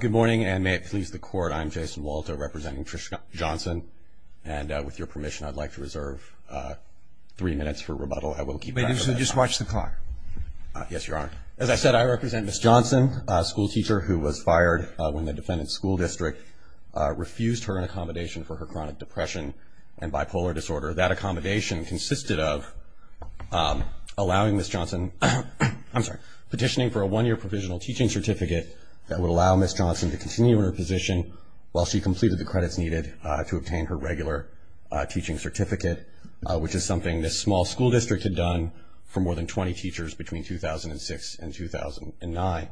Good morning, and may it please the court, I'm Jason Walto representing Trish Johnson. And with your permission, I'd like to reserve three minutes for rebuttal. I will keep going. Just watch the clock. Yes, Your Honor. As I said, I represent Ms. Johnson, a school teacher who was fired when the defendant's school district refused her an accommodation for her chronic depression and bipolar disorder. That accommodation consisted of allowing Ms. Johnson, I'm sorry, petitioning for a one-year provisional teaching certificate that would allow Ms. Johnson to continue her position while she completed the credits needed to obtain her regular teaching certificate, which is something this small school district had done for more than 20 teachers between 2006 and 2009.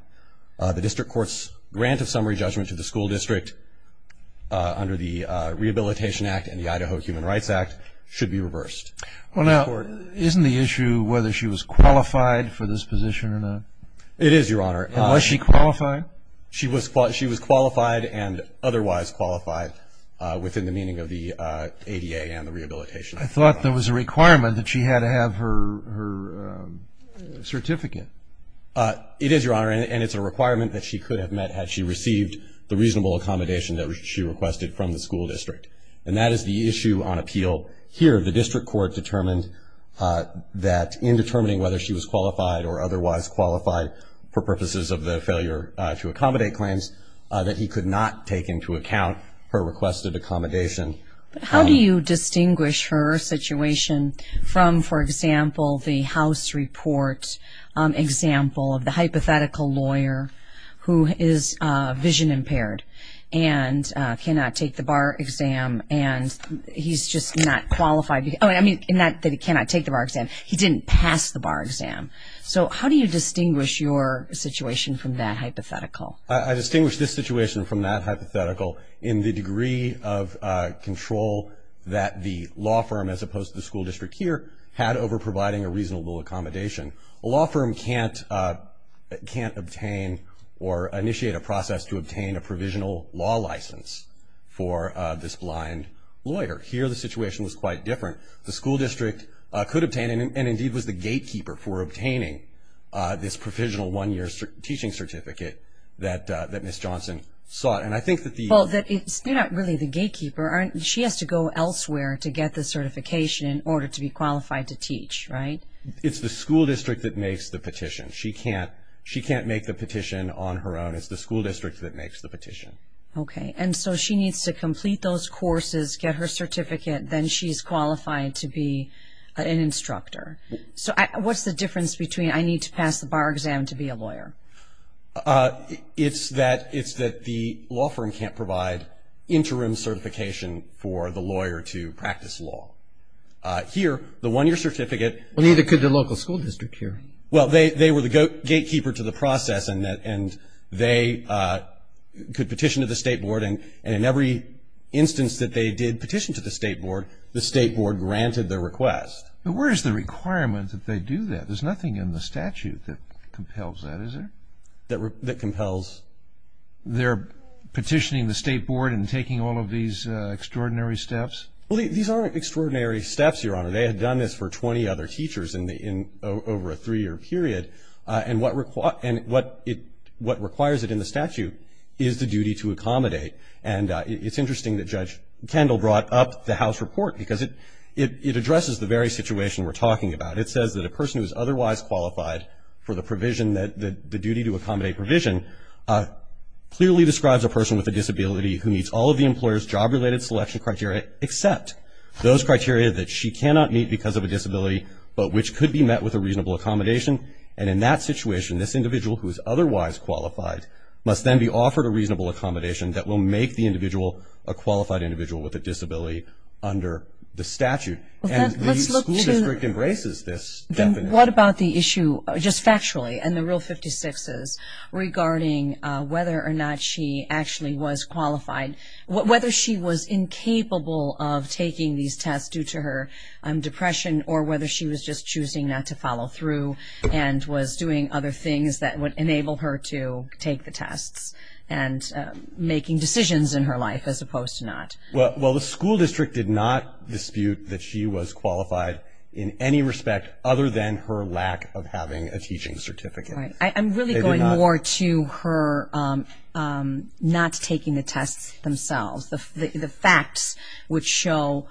The district court's grant of summary judgment to the school district under the Rehabilitation Act and the Idaho Human Rights Act should be reversed. Well, now, isn't the issue whether she was qualified for this position or not? It is, Your Honor. Was she qualified? She was qualified and otherwise qualified within the meaning of the ADA and the rehabilitation act. I thought there was a requirement that she had to have her certificate. It is, Your Honor, and it's a requirement that she could have met had she received the reasonable accommodation that she requested from the school district. And that is the issue on appeal. Here, the district court determined that in determining whether she was qualified or otherwise qualified for purposes of the failure to accommodate claims, that he could not take into account her requested accommodation. How do you distinguish her situation from, for example, the house report example of the hypothetical lawyer who is vision impaired and cannot take the bar exam and he's just not qualified? I mean, not that he cannot take the bar exam. He didn't pass the bar exam. So how do you distinguish your situation from that hypothetical? I distinguish this situation from that hypothetical in the degree of control that the law firm, as opposed to the school district here, had over providing a reasonable accommodation. A law firm can't obtain or initiate a process to obtain a provisional law license for this blind lawyer. Here, the situation was quite different. The school district could obtain and indeed was the gatekeeper for obtaining this provisional one-year teaching certificate that Ms. Johnson sought. And I think that the- Well, that it's not really the gatekeeper. She has to go elsewhere to get the certification in order to be qualified to teach, right? It's the school district that makes the petition. She can't make the petition on her own. It's the school district that makes the petition. OK. And so she needs to complete those courses, get her certificate, then she's qualified to be an instructor. So what's the difference between I need to pass the bar exam to be a lawyer? It's that the law firm can't provide interim certification for the lawyer to practice law. Here, the one-year certificate- Well, neither could the local school district here. Well, they were the gatekeeper to the process, and they could petition to the state board. And in every instance that they did petition to the state board, the state board granted their request. But where is the requirement that they do that? There's nothing in the statute that compels that, is there? That compels? They're petitioning the state board and taking all of these extraordinary steps? Well, these aren't extraordinary steps, Your Honor. They had done this for 20 other teachers over a three-year period. And what requires it in the statute is the duty to accommodate. And it's interesting that Judge Kendall brought up the House report because it addresses the very situation we're talking about. It says that a person who is otherwise qualified for the provision, the duty to accommodate provision, clearly describes a person with a disability who meets all of the employer's job-related selection criteria except those criteria that she cannot meet because of a disability but which could be met with a reasonable accommodation. And in that situation, this individual who is otherwise qualified must then be offered a reasonable accommodation that will make the individual a qualified individual with a disability under the statute. And the school district embraces this definition. What about the issue, just factually, in the Rule 56s, regarding whether or not she actually was qualified, whether she was incapable of taking these tests due to her depression or whether she was just choosing not to follow through and was doing other things that would enable her to take the tests and making decisions in her life as opposed to not? Well, the school district did not dispute that she was qualified in any respect other than her lack of having a teaching certificate. I'm really going more to her not taking the tests themselves. The facts would show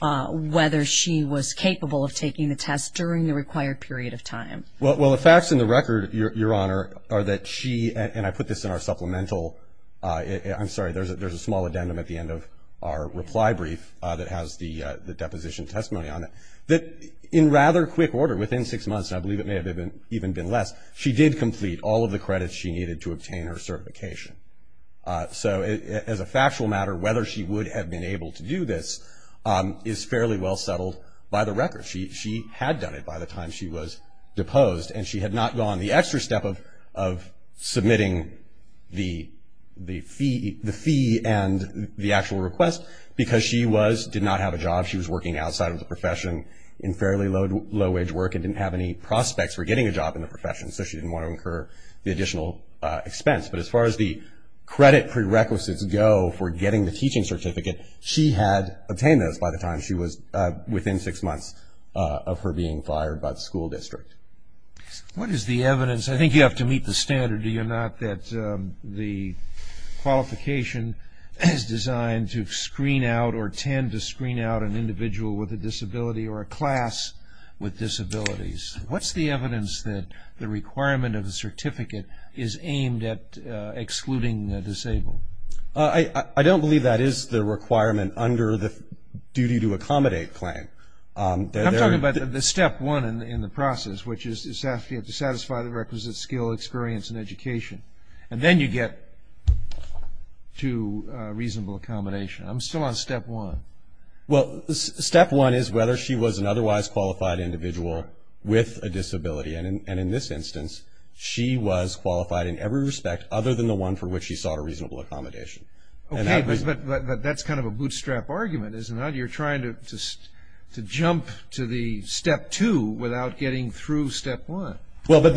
whether she was capable of taking the tests during the required period of time. Well, the facts in the record, Your Honor, are that she, and I put this in our supplemental, I'm sorry, there's a small addendum at the end of our reply brief that has the deposition testimony on it, that in rather quick order, within six months, I believe it may have even been less, she did complete all of the credits she needed to obtain her certification. So as a factual matter, whether she would have been able to do this is fairly well settled by the record. She had done it by the time she was deposed, and she had not gone the extra step of submitting the fee and the actual request because she was, did not have a job. She was working outside of the profession in fairly low wage work and didn't have any prospects for getting a job in the profession, so she didn't want to incur the additional expense. But as far as the credit prerequisites go for getting the teaching certificate, she had obtained those by the time she was within six months of her being fired by the school district. What is the evidence, I think you have to meet the standard, do you not, that the qualification is designed to screen out or tend to screen out an individual with a disability or a class with disabilities? What's the evidence that the requirement of the certificate is aimed at excluding disabled? I don't believe that is the requirement under the duty to accommodate claim. I'm talking about the step one in the process, which is to satisfy the requisite skill, experience, and education, and then you get to reasonable accommodation. I'm still on step one. Well, step one is whether she was an otherwise qualified individual with a disability. And in this instance, she was qualified in every respect other than the one for which she sought a reasonable accommodation. Okay, but that's kind of a bootstrap argument, isn't it? You're trying to jump to the step two without getting through step one. Well, but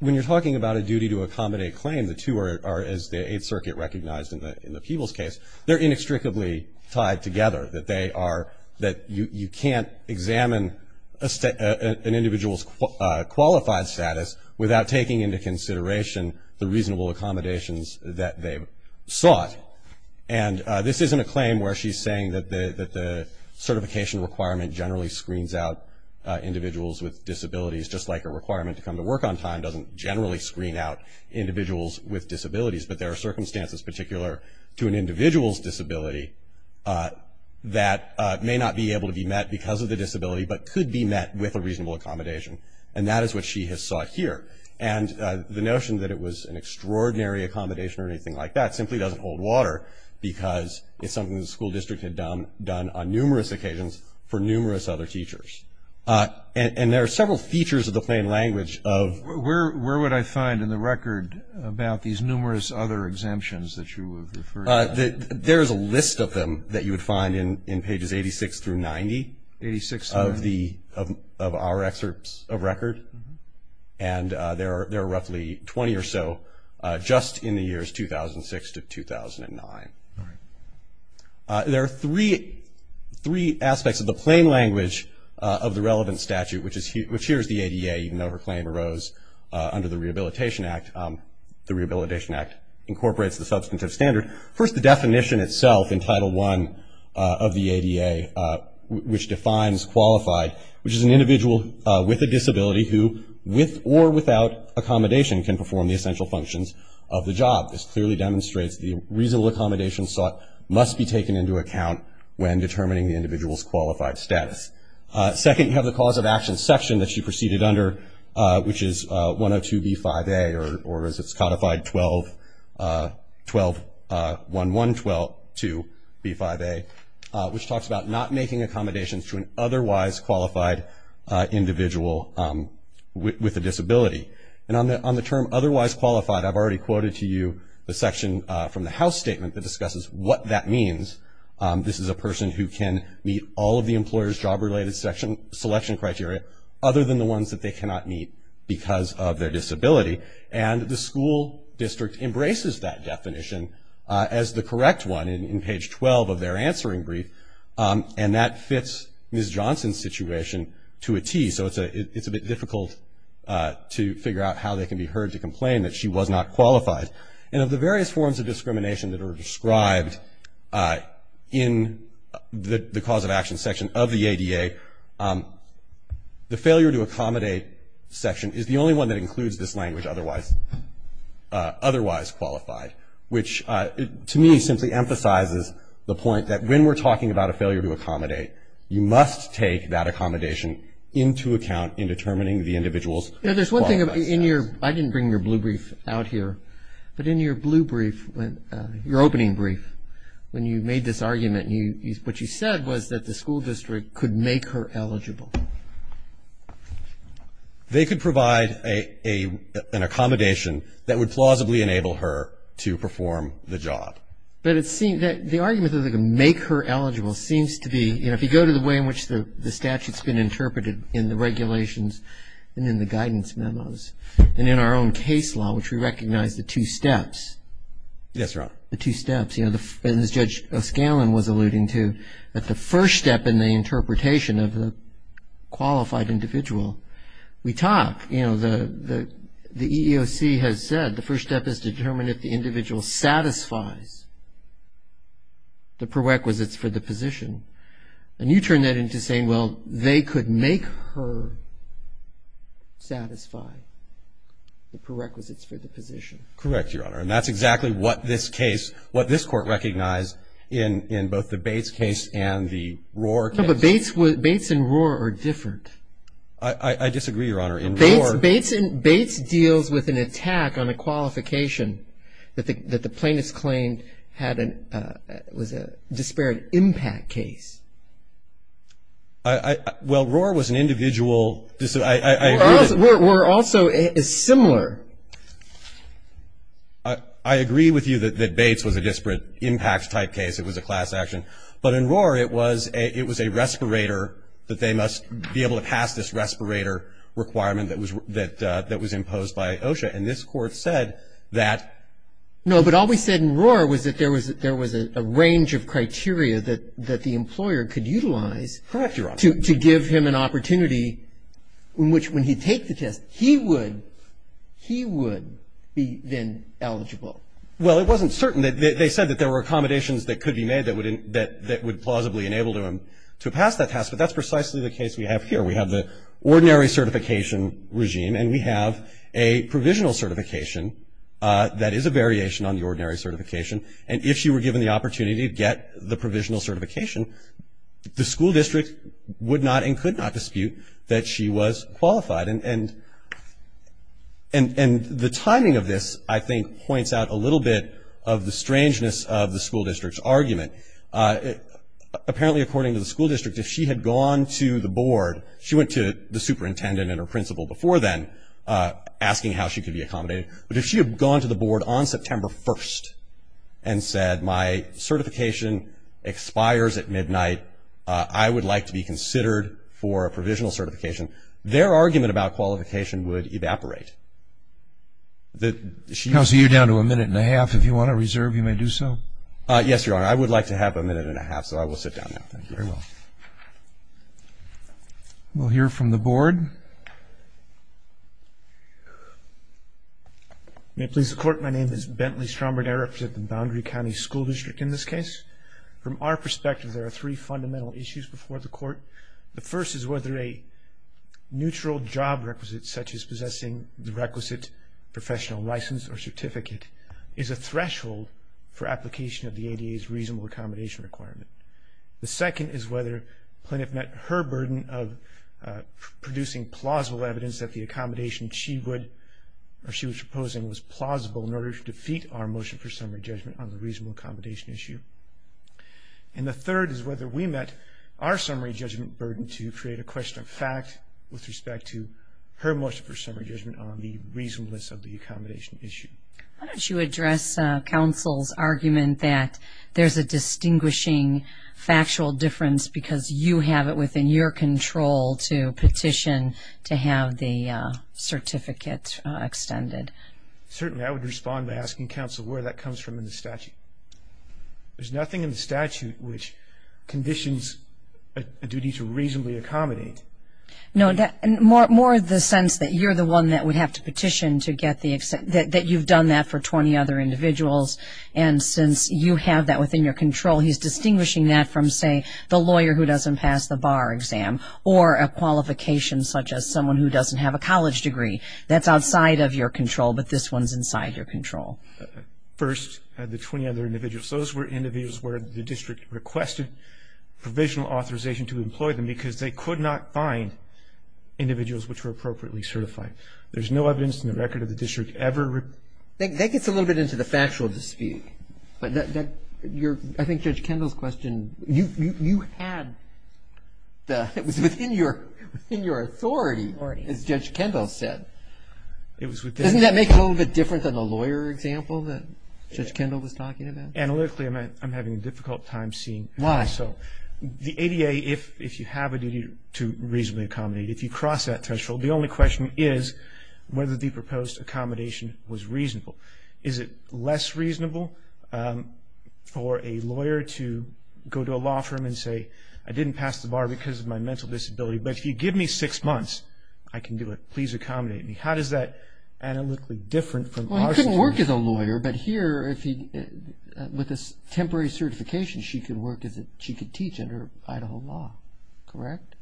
when you're talking about a duty to accommodate claim, the two are, as the Eighth Circuit recognized in the Peebles case, they're inextricably tied together, that they are, that you can't examine an individual's qualified status without taking into consideration the reasonable accommodations that they've sought. And this isn't a claim where she's saying that the certification requirement generally screens out individuals with disabilities, just like a requirement to come to work on time doesn't generally screen out individuals with disabilities. But there are circumstances particular to an individual's disability that may not be able to be met because of the disability, but could be met with a reasonable accommodation. And that is what she has sought here. And the notion that it was an extraordinary accommodation or anything like that simply doesn't hold water because it's something the school district had done on numerous occasions for numerous other teachers. And there are several features of the plain language of- Where would I find in the record about these numerous other exemptions that you would refer to? There's a list of them that you would find in pages 86 through 90 of our excerpts of record. And there are roughly 20 or so just in the years 2006 to 2009. There are three aspects of the plain language of the relevant statute, which here is the ADA, even though her claim arose under the Rehabilitation Act. The Rehabilitation Act incorporates the substantive standard. First, the definition itself in Title I of the ADA, which defines qualified, which is an individual with a disability who with or without accommodation can perform the essential functions of the job. This clearly demonstrates the reasonable accommodation sought must be taken into account when determining the individual's qualified status. Second, you have the cause of action section that you proceeded under, which is 102B5A or as it's codified 121112B5A, which talks about not making accommodations to an otherwise qualified individual with a disability. And on the term otherwise qualified, I've already quoted to you the section from the House Statement that discusses what that means. This is a person who can meet all of the employer's job-related selection criteria other than the ones that they cannot meet because of their disability. And the school district embraces that definition as the correct one in page 12 of their answering brief. And that fits Ms. Johnson's situation to a T. So it's a bit difficult to figure out how they can be heard to complain that she was not qualified. And of the various forms of discrimination that are described in the cause of action section of the ADA, the failure to accommodate section is the only one that includes this language otherwise qualified, which to me simply emphasizes the point that when we're talking about a failure to accommodate, you must take that accommodation into account in determining the individual's qualified status. In your, I didn't bring your blue brief out here, but in your blue brief, your opening brief, when you made this argument, what you said was that the school district could make her eligible. They could provide an accommodation that would plausibly enable her to perform the job. But it seems, the argument that they can make her eligible seems to be, you know, if you go to the way in which the statute's been interpreted in the regulations and in the guidance memos and in our own case law, which we recognize the two steps. Yes, Your Honor. The two steps. You know, as Judge O'Scallion was alluding to, that the first step in the interpretation of the qualified individual, we talk, you know, the EEOC has said the first step is to determine if the individual satisfies the prerequisites for the position. And you turn that into saying, well, they could make her satisfy the prerequisites for the position. Correct, Your Honor. And that's exactly what this case, what this court recognized in both the Bates case and the Rohr case. No, but Bates and Rohr are different. I disagree, Your Honor. In Rohr. Bates deals with an attack on a qualification that the plaintiff's claim had an, a disparate impact case. I, I, well, Rohr was an individual, I agree that. Rohr, Rohr also is similar. I, I agree with you that, that Bates was a disparate impact type case. It was a class action. But in Rohr, it was a, it was a respirator that they must be able to pass this respirator requirement that was, that, that was imposed by OSHA. And this court said that. No, but all we said in Rohr was that there was, there was a range of criteria that, that the employer could utilize. Correct, Your Honor. To, to give him an opportunity in which when he'd take the test, he would, he would be then eligible. Well, it wasn't certain. They, they said that there were accommodations that could be made that would in, that, that would plausibly enable him to pass that test. But that's precisely the case we have here. We have the ordinary certification regime. And we have a provisional certification that is a variation on the ordinary certification. And if she were given the opportunity to get the provisional certification, the school district would not and could not dispute that she was qualified. And, and, and, and the timing of this, I think, points out a little bit of the strangeness of the school district's argument. Apparently, according to the school district, if she had gone to the board, she went to the superintendent and her principal before then, asking how she could be accommodated. But if she had gone to the board on September 1st and said, my certification expires at midnight. I would like to be considered for a provisional certification. Their argument about qualification would evaporate. The, she. Counsel, you're down to a minute and a half. If you want to reserve, you may do so. Yes, Your Honor. I would like to have a minute and a half, so I will sit down now. Thank you. Very well. We'll hear from the board. May it please the court. My name is Bentley Stromberg. I represent the Boundary County School District in this case. From our perspective, there are three fundamental issues before the court. The first is whether a neutral job requisite, such as possessing the requisite professional license or certificate, is a threshold for application of the ADA's reasonable accommodation requirement. The second is whether Plinniff met her burden of producing plausible evidence that the accommodation she would, or she was proposing was plausible in order to defeat our motion for summary judgment on the reasonable accommodation issue. And the third is whether we met our summary judgment burden to create a question of fact with respect to her motion for summary judgment on the reasonableness of the accommodation issue. Why don't you address counsel's argument that there's a distinguishing factual difference because you have it within your control to petition to have the certificate extended? Certainly. I would respond by asking counsel where that comes from in the statute. There's nothing in the statute which conditions a duty to reasonably accommodate. No, more the sense that you're the one that would have to petition to get the, that you've done that for 20 other individuals. And since you have that within your control, he's distinguishing that from, say, the lawyer who doesn't pass the bar exam or a qualification such as someone who doesn't have a college degree. That's outside of your control, but this one's inside your control. First, the 20 other individuals. Those were individuals where the district requested provisional authorization to employ them because they could not find individuals which were appropriately certified. There's no evidence in the record of the district ever. That gets a little bit into the factual dispute, but that, your, I think Judge Kendall's question, you had the, it was within your authority, as Judge Kendall said. It was within. Doesn't that make it a little bit different than the lawyer example that Judge Kendall was talking about? Analytically, I'm having a difficult time seeing. Why? So, the ADA, if you have a duty to reasonably accommodate, if you cross that threshold, the only question is whether the proposed accommodation was reasonable. Is it less reasonable for a lawyer to go to a law firm and say, I didn't pass the bar because of my mental disability, but if you give me six months, I can do it. Please accommodate me. How does that analytically different from our situation? Well, he couldn't work as a lawyer, but here, if he, with a temporary certification, she could work as a, she could teach under Idaho law, correct?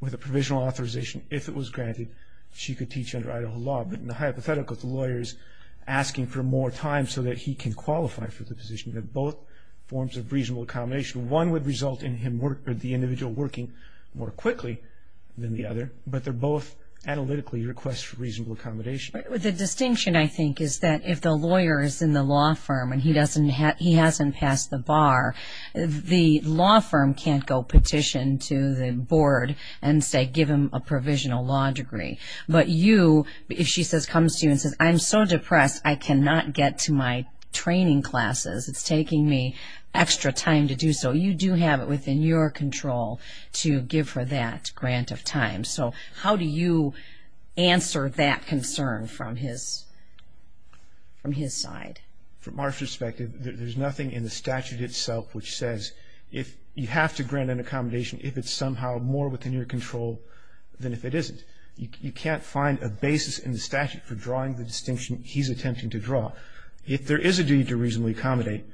With a provisional authorization, if it was granted, she could teach under Idaho law. But in the hypothetical, the lawyer's asking for more time so that he can qualify for the position of both forms of reasonable accommodation. One would result in him, the individual working more quickly than the other, but they're both analytically requests for reasonable accommodation. But the distinction, I think, is that if the lawyer is in the law firm and he doesn't, he hasn't passed the bar, the law firm can't go petition to the board and say give him a provisional law degree. But you, if she says, comes to you and says, I'm so depressed, I cannot get to my training classes. It's taking me extra time to do so. You do have it within your control to give her that grant of time. So how do you answer that concern from his, from his side? From our perspective, there's nothing in the statute itself which says if you have to grant an accommodation if it's somehow more within your control than if it isn't. You can't find a basis in the statute for drawing the distinction he's attempting to draw. If there is a duty to reasonably accommodate,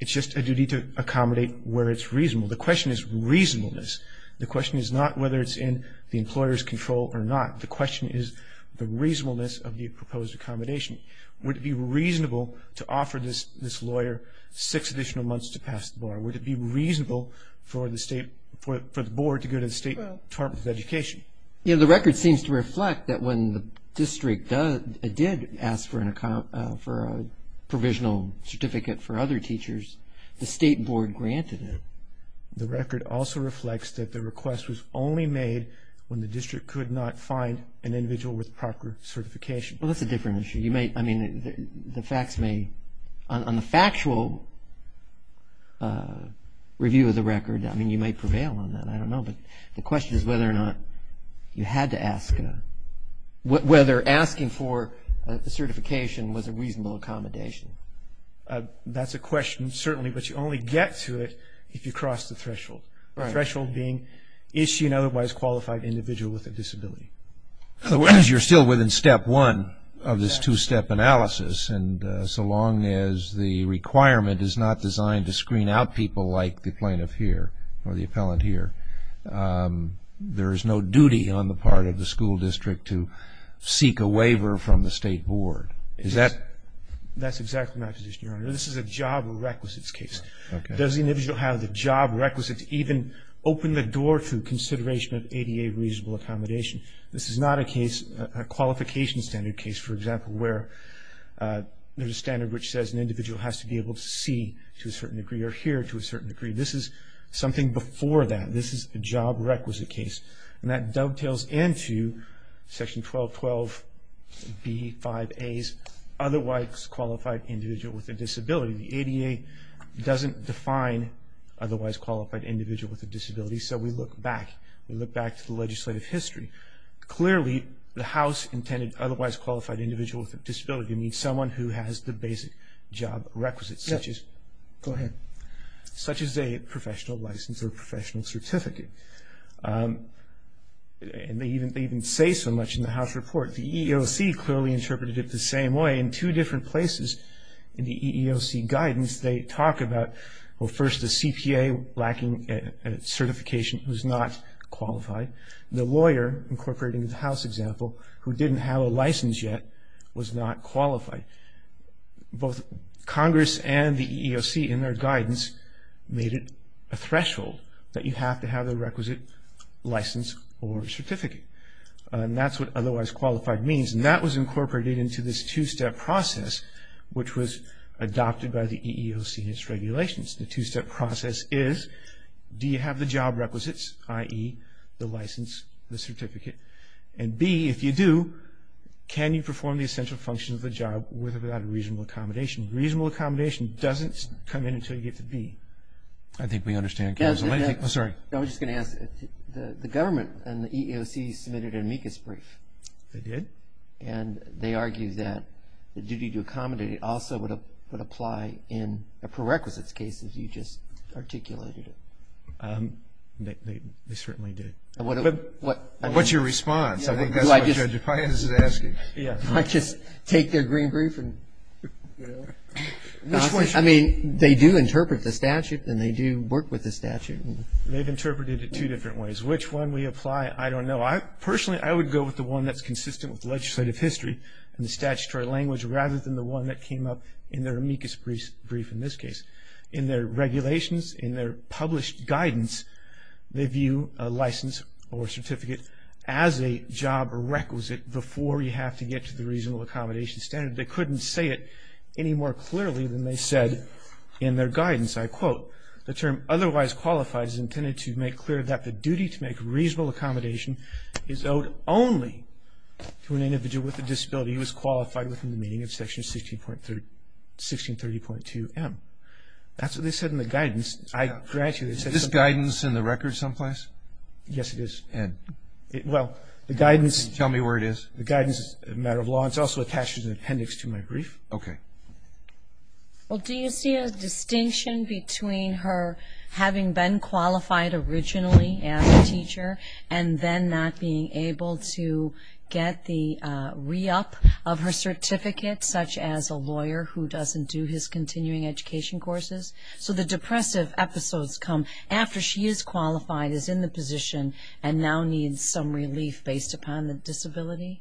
it's just a duty to accommodate where it's reasonable. The question is reasonableness. The question is not whether it's in the employer's control or not. The question is the reasonableness of the proposed accommodation. Would it be reasonable to offer this, this lawyer six additional months to pass the bar? Would it be reasonable for the state, for the board to go to the State Department of Education? Yeah, the record seems to reflect that when the district does, did ask for an account, for a provisional certificate for other teachers, the state board granted it. The record also reflects that the request was only made when the district could not find an individual with proper certification. Well, that's a different issue. You may, I mean, the facts may, on the factual review of the record, I mean, you may prevail on that, I don't know, but the question is whether or not you had to ask, whether asking for a certification was a reasonable accommodation. That's a question, certainly, but you only get to it if you cross the threshold. The threshold being, is she an otherwise qualified individual with a disability? So, as you're still within step one of this two-step analysis, and so long as the requirement is not designed to screen out people like the plaintiff here, or the appellant here, there is no duty on the part of the school district to seek a waiver from the state board. Is that? That's exactly my position, Your Honor. This is a job requisites case. Okay. Does the individual have the job requisites even open the door to consideration of ADA reasonable accommodation? This is not a case, a qualification standard case, for example, where there's a standard which says an individual has to be able to see to a certain degree, or hear to a certain degree. This is something before that. This is a job requisite case, and that dovetails into section 1212B5A's, otherwise qualified individual with a disability. The ADA doesn't define otherwise qualified individual with a disability, so we look back. We look back to the legislative history. Clearly, the house intended otherwise qualified individual with a disability means someone who has the basic job requisites, such as a professional license or professional certificate, and they even say so much in the house report. The EEOC clearly interpreted it the same way. In two different places in the EEOC guidance, they talk about, well, first, the CPA lacking certification who's not qualified. The lawyer, incorporating the house example, who didn't have a license yet, was not qualified. Both Congress and the EEOC, in their guidance, made it a threshold that you have to have the requisite license or certificate, and that's what otherwise qualified means, and that was incorporated into this two-step process, which was adopted by the EEOC and its regulations. The two-step process is, do you have the job requisites, i.e., the license, the certificate, and B, if you do, can you perform the essential functions of the job without a reasonable accommodation? Reasonable accommodation doesn't come in until you get to B. I think we understand, Counselor. I think, oh, sorry. I was just going to ask, the government and the EEOC submitted an amicus brief. They did. And they argued that the duty to accommodate also would apply in a prerequisites case, as you just articulated it. They certainly did. What's your response? I think that's what Judge Appiah is asking. Do I just take their green brief and, you know, I mean, they do interpret the statute, and they do work with the statute. They've interpreted it two different ways. Which one we apply, I don't know. Personally, I would go with the one that's consistent with legislative history and the statutory language rather than the one that came up in their amicus brief in this case. In their regulations, in their published guidance, they view a license or certificate as a job requisite before you have to get to the reasonable accommodation standard. They couldn't say it any more clearly than they said in their guidance. I quote, the term otherwise qualified is intended to make clear that the duty to make reasonable accommodation is owed only to an individual with a disability who is qualified within the meaning of Section 1630.2M. That's what they said in the guidance. I grant you. Is this guidance in the record someplace? Yes, it is. And? Well, the guidance. Can you tell me where it is? The guidance is a matter of law. It's also attached as an appendix to my brief. Okay. Well, do you see a distinction between her having been qualified originally as a teacher and then not being able to get the re-up of her certificate such as a lawyer who doesn't do his continuing education courses? So the depressive episodes come after she is qualified, is in the position, and now needs some relief based upon the disability?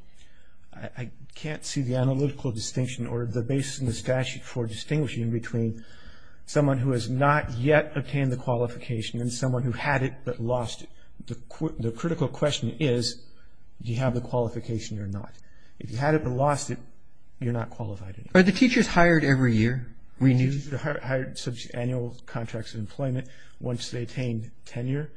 I can't see the analytical distinction or the basis in the statute for distinguishing between someone who has not yet obtained the qualification and someone who had it but lost it. The critical question is, do you have the qualification or not? If you had it but lost it, you're not qualified anymore. Are the teachers hired every year, renewed? The teachers are hired under annual contracts of employment. Once they attain tenure,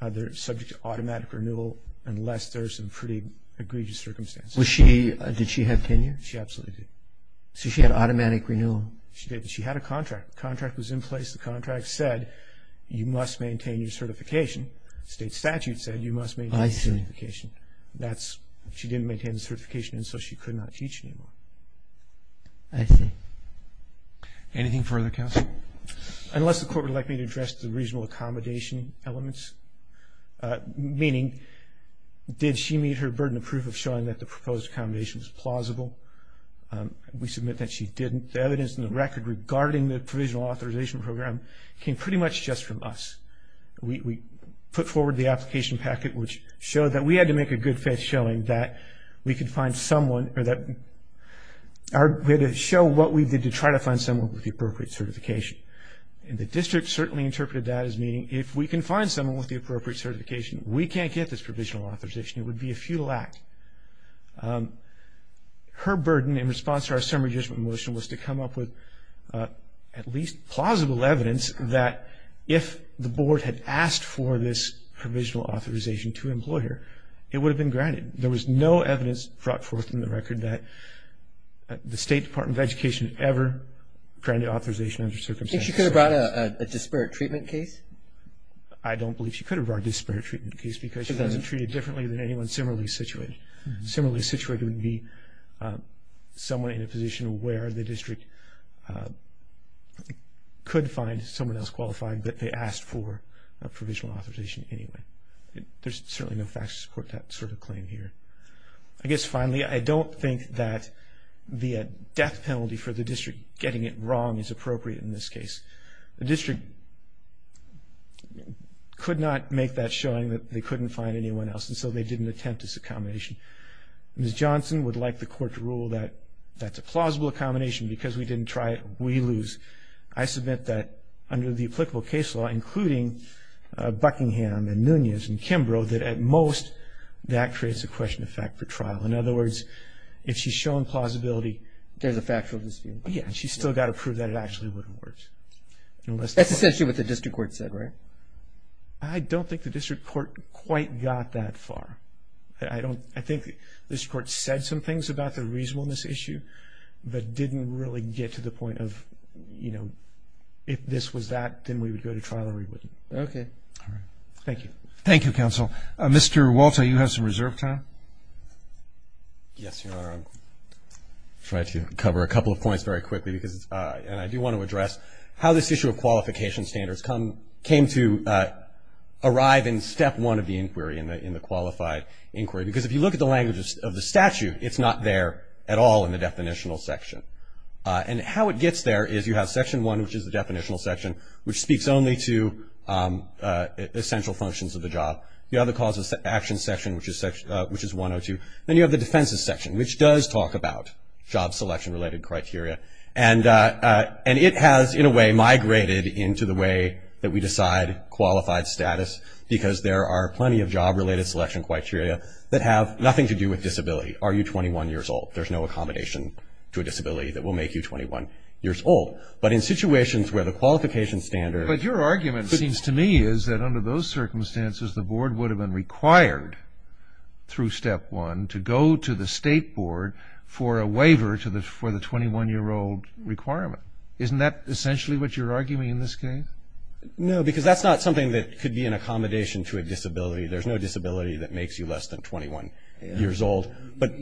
they're subject to automatic renewal, unless there's some pretty egregious circumstances. Was she, did she have tenure? She absolutely did. So she had automatic renewal? She did, but she had a contract. The contract was in place. The contract said you must maintain your certification. State statute said you must maintain your certification. That's, she didn't maintain the certification, and so she could not teach anymore. I see. Anything further, counsel? Unless the court would like me to address the regional accommodation elements, meaning did she meet her burden of proof of showing that the proposed accommodation was plausible? We submit that she didn't. The evidence in the record regarding the provisional authorization program came pretty much just from us. We put forward the application packet, which showed that we had to make a good faith showing that we could find someone, or that we had to show what we did to try to find someone with the appropriate certification. And the district certainly interpreted that as meaning if we can find someone with the appropriate certification, we can't get this provisional authorization. It would be a futile act. Her burden in response to our summary judgment motion was to come up with at least plausible evidence that if the board had asked for this provisional authorization to employ her, it would have been granted. There was no evidence brought forth in the record that the State Department of Education ever granted authorization under circumstances. She could have brought a disparate treatment case? I don't believe she could have brought a disparate treatment case because she doesn't treat it differently than anyone similarly situated. Similarly situated would be someone in a position where the district could find someone else qualified, but they asked for a provisional authorization anyway. There's certainly no facts to support that sort of claim here. I guess finally, I don't think that the death penalty for the district getting it wrong is appropriate in this case. The district could not make that showing that they couldn't find anyone else and so they didn't attempt this accommodation. Ms. Johnson would like the court to rule that that's a plausible accommodation because we didn't try it, we lose. I submit that under the applicable case law, including Buckingham and Nunez and Kimbrough, that at most, that creates a question of fact for trial. In other words, if she's shown plausibility. There's a factual dispute. Yeah, she's still got to prove that it actually wouldn't work. That's essentially what the district court said, right? I don't think the district court quite got that far. I think the district court said some things about the reasonableness issue, but didn't really get to the point of, you know, if this was that, then we would go to trial or we wouldn't. Okay. All right. Thank you. Thank you, counsel. Mr. Walter, you have some reserve time. Yes, Your Honor. I'm trying to cover a couple of points very quickly because, and I do want to address, how this issue of qualification standards came to arrive in step one of the inquiry, in the qualified inquiry, because if you look at the language of the statute, it's not there at all in the definitional section. And how it gets there is you have section one, which is the definitional section, which speaks only to essential functions of the job. You have the causes of action section, which is 102. Then you have the defenses section, which does talk about job selection-related criteria. And it has, in a way, migrated into the way that we decide qualified status because there are plenty of job-related selection criteria that have nothing to do with disability. Are you 21 years old? There's no accommodation to a disability that will make you 21 years old. But in situations where the qualification standard. But your argument seems to me is that under those circumstances, the board would have been required through step one to go to the state board for a waiver for the 21-year-old requirement. Isn't that essentially what you're arguing in this case? No, because that's not something that could be an accommodation to a disability. There's no disability that makes you less than 21 years old. But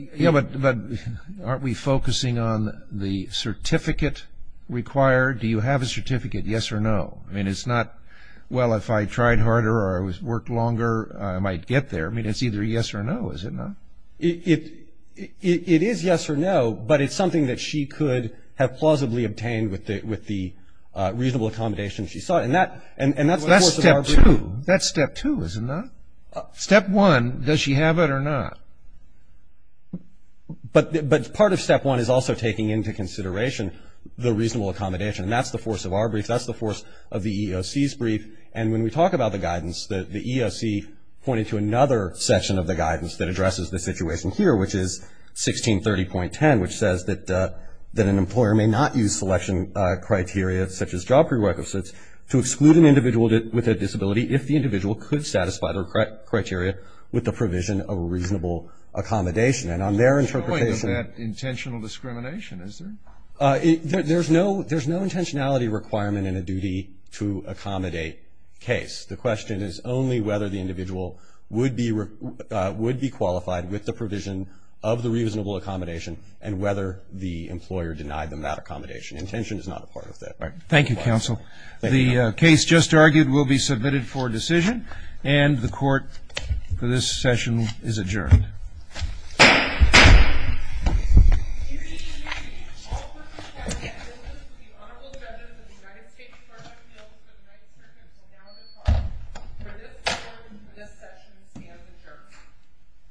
aren't we focusing on the certificate required? Do you have a certificate, yes or no? I mean, it's not, well, if I tried harder or I worked longer, I might get there. I mean, it's either yes or no, is it not? It is yes or no, but it's something that she could have plausibly obtained with the reasonable accommodation she sought. And that's the force of our brief. That's step two, is it not? Step one, does she have it or not? But part of step one is also taking into consideration the reasonable accommodation. And that's the force of our brief. That's the force of the EEOC's brief. And when we talk about the guidance, the EEOC pointed to another section of the guidance that addresses the situation here, which is 1630.10, which says that an employer may not use selection criteria, such as job prerequisites, to exclude an individual with a disability if the individual could satisfy their criteria with the provision of a reasonable accommodation. And on their interpretation of that intentional discrimination, is there? There's no intentionality requirement in a duty to accommodate case. The question is only whether the individual would be qualified with the provision of the reasonable accommodation and whether the employer denied them that accommodation. Intention is not a part of that. All right. Thank you, counsel. The case just argued will be submitted for decision. And the court for this session is adjourned.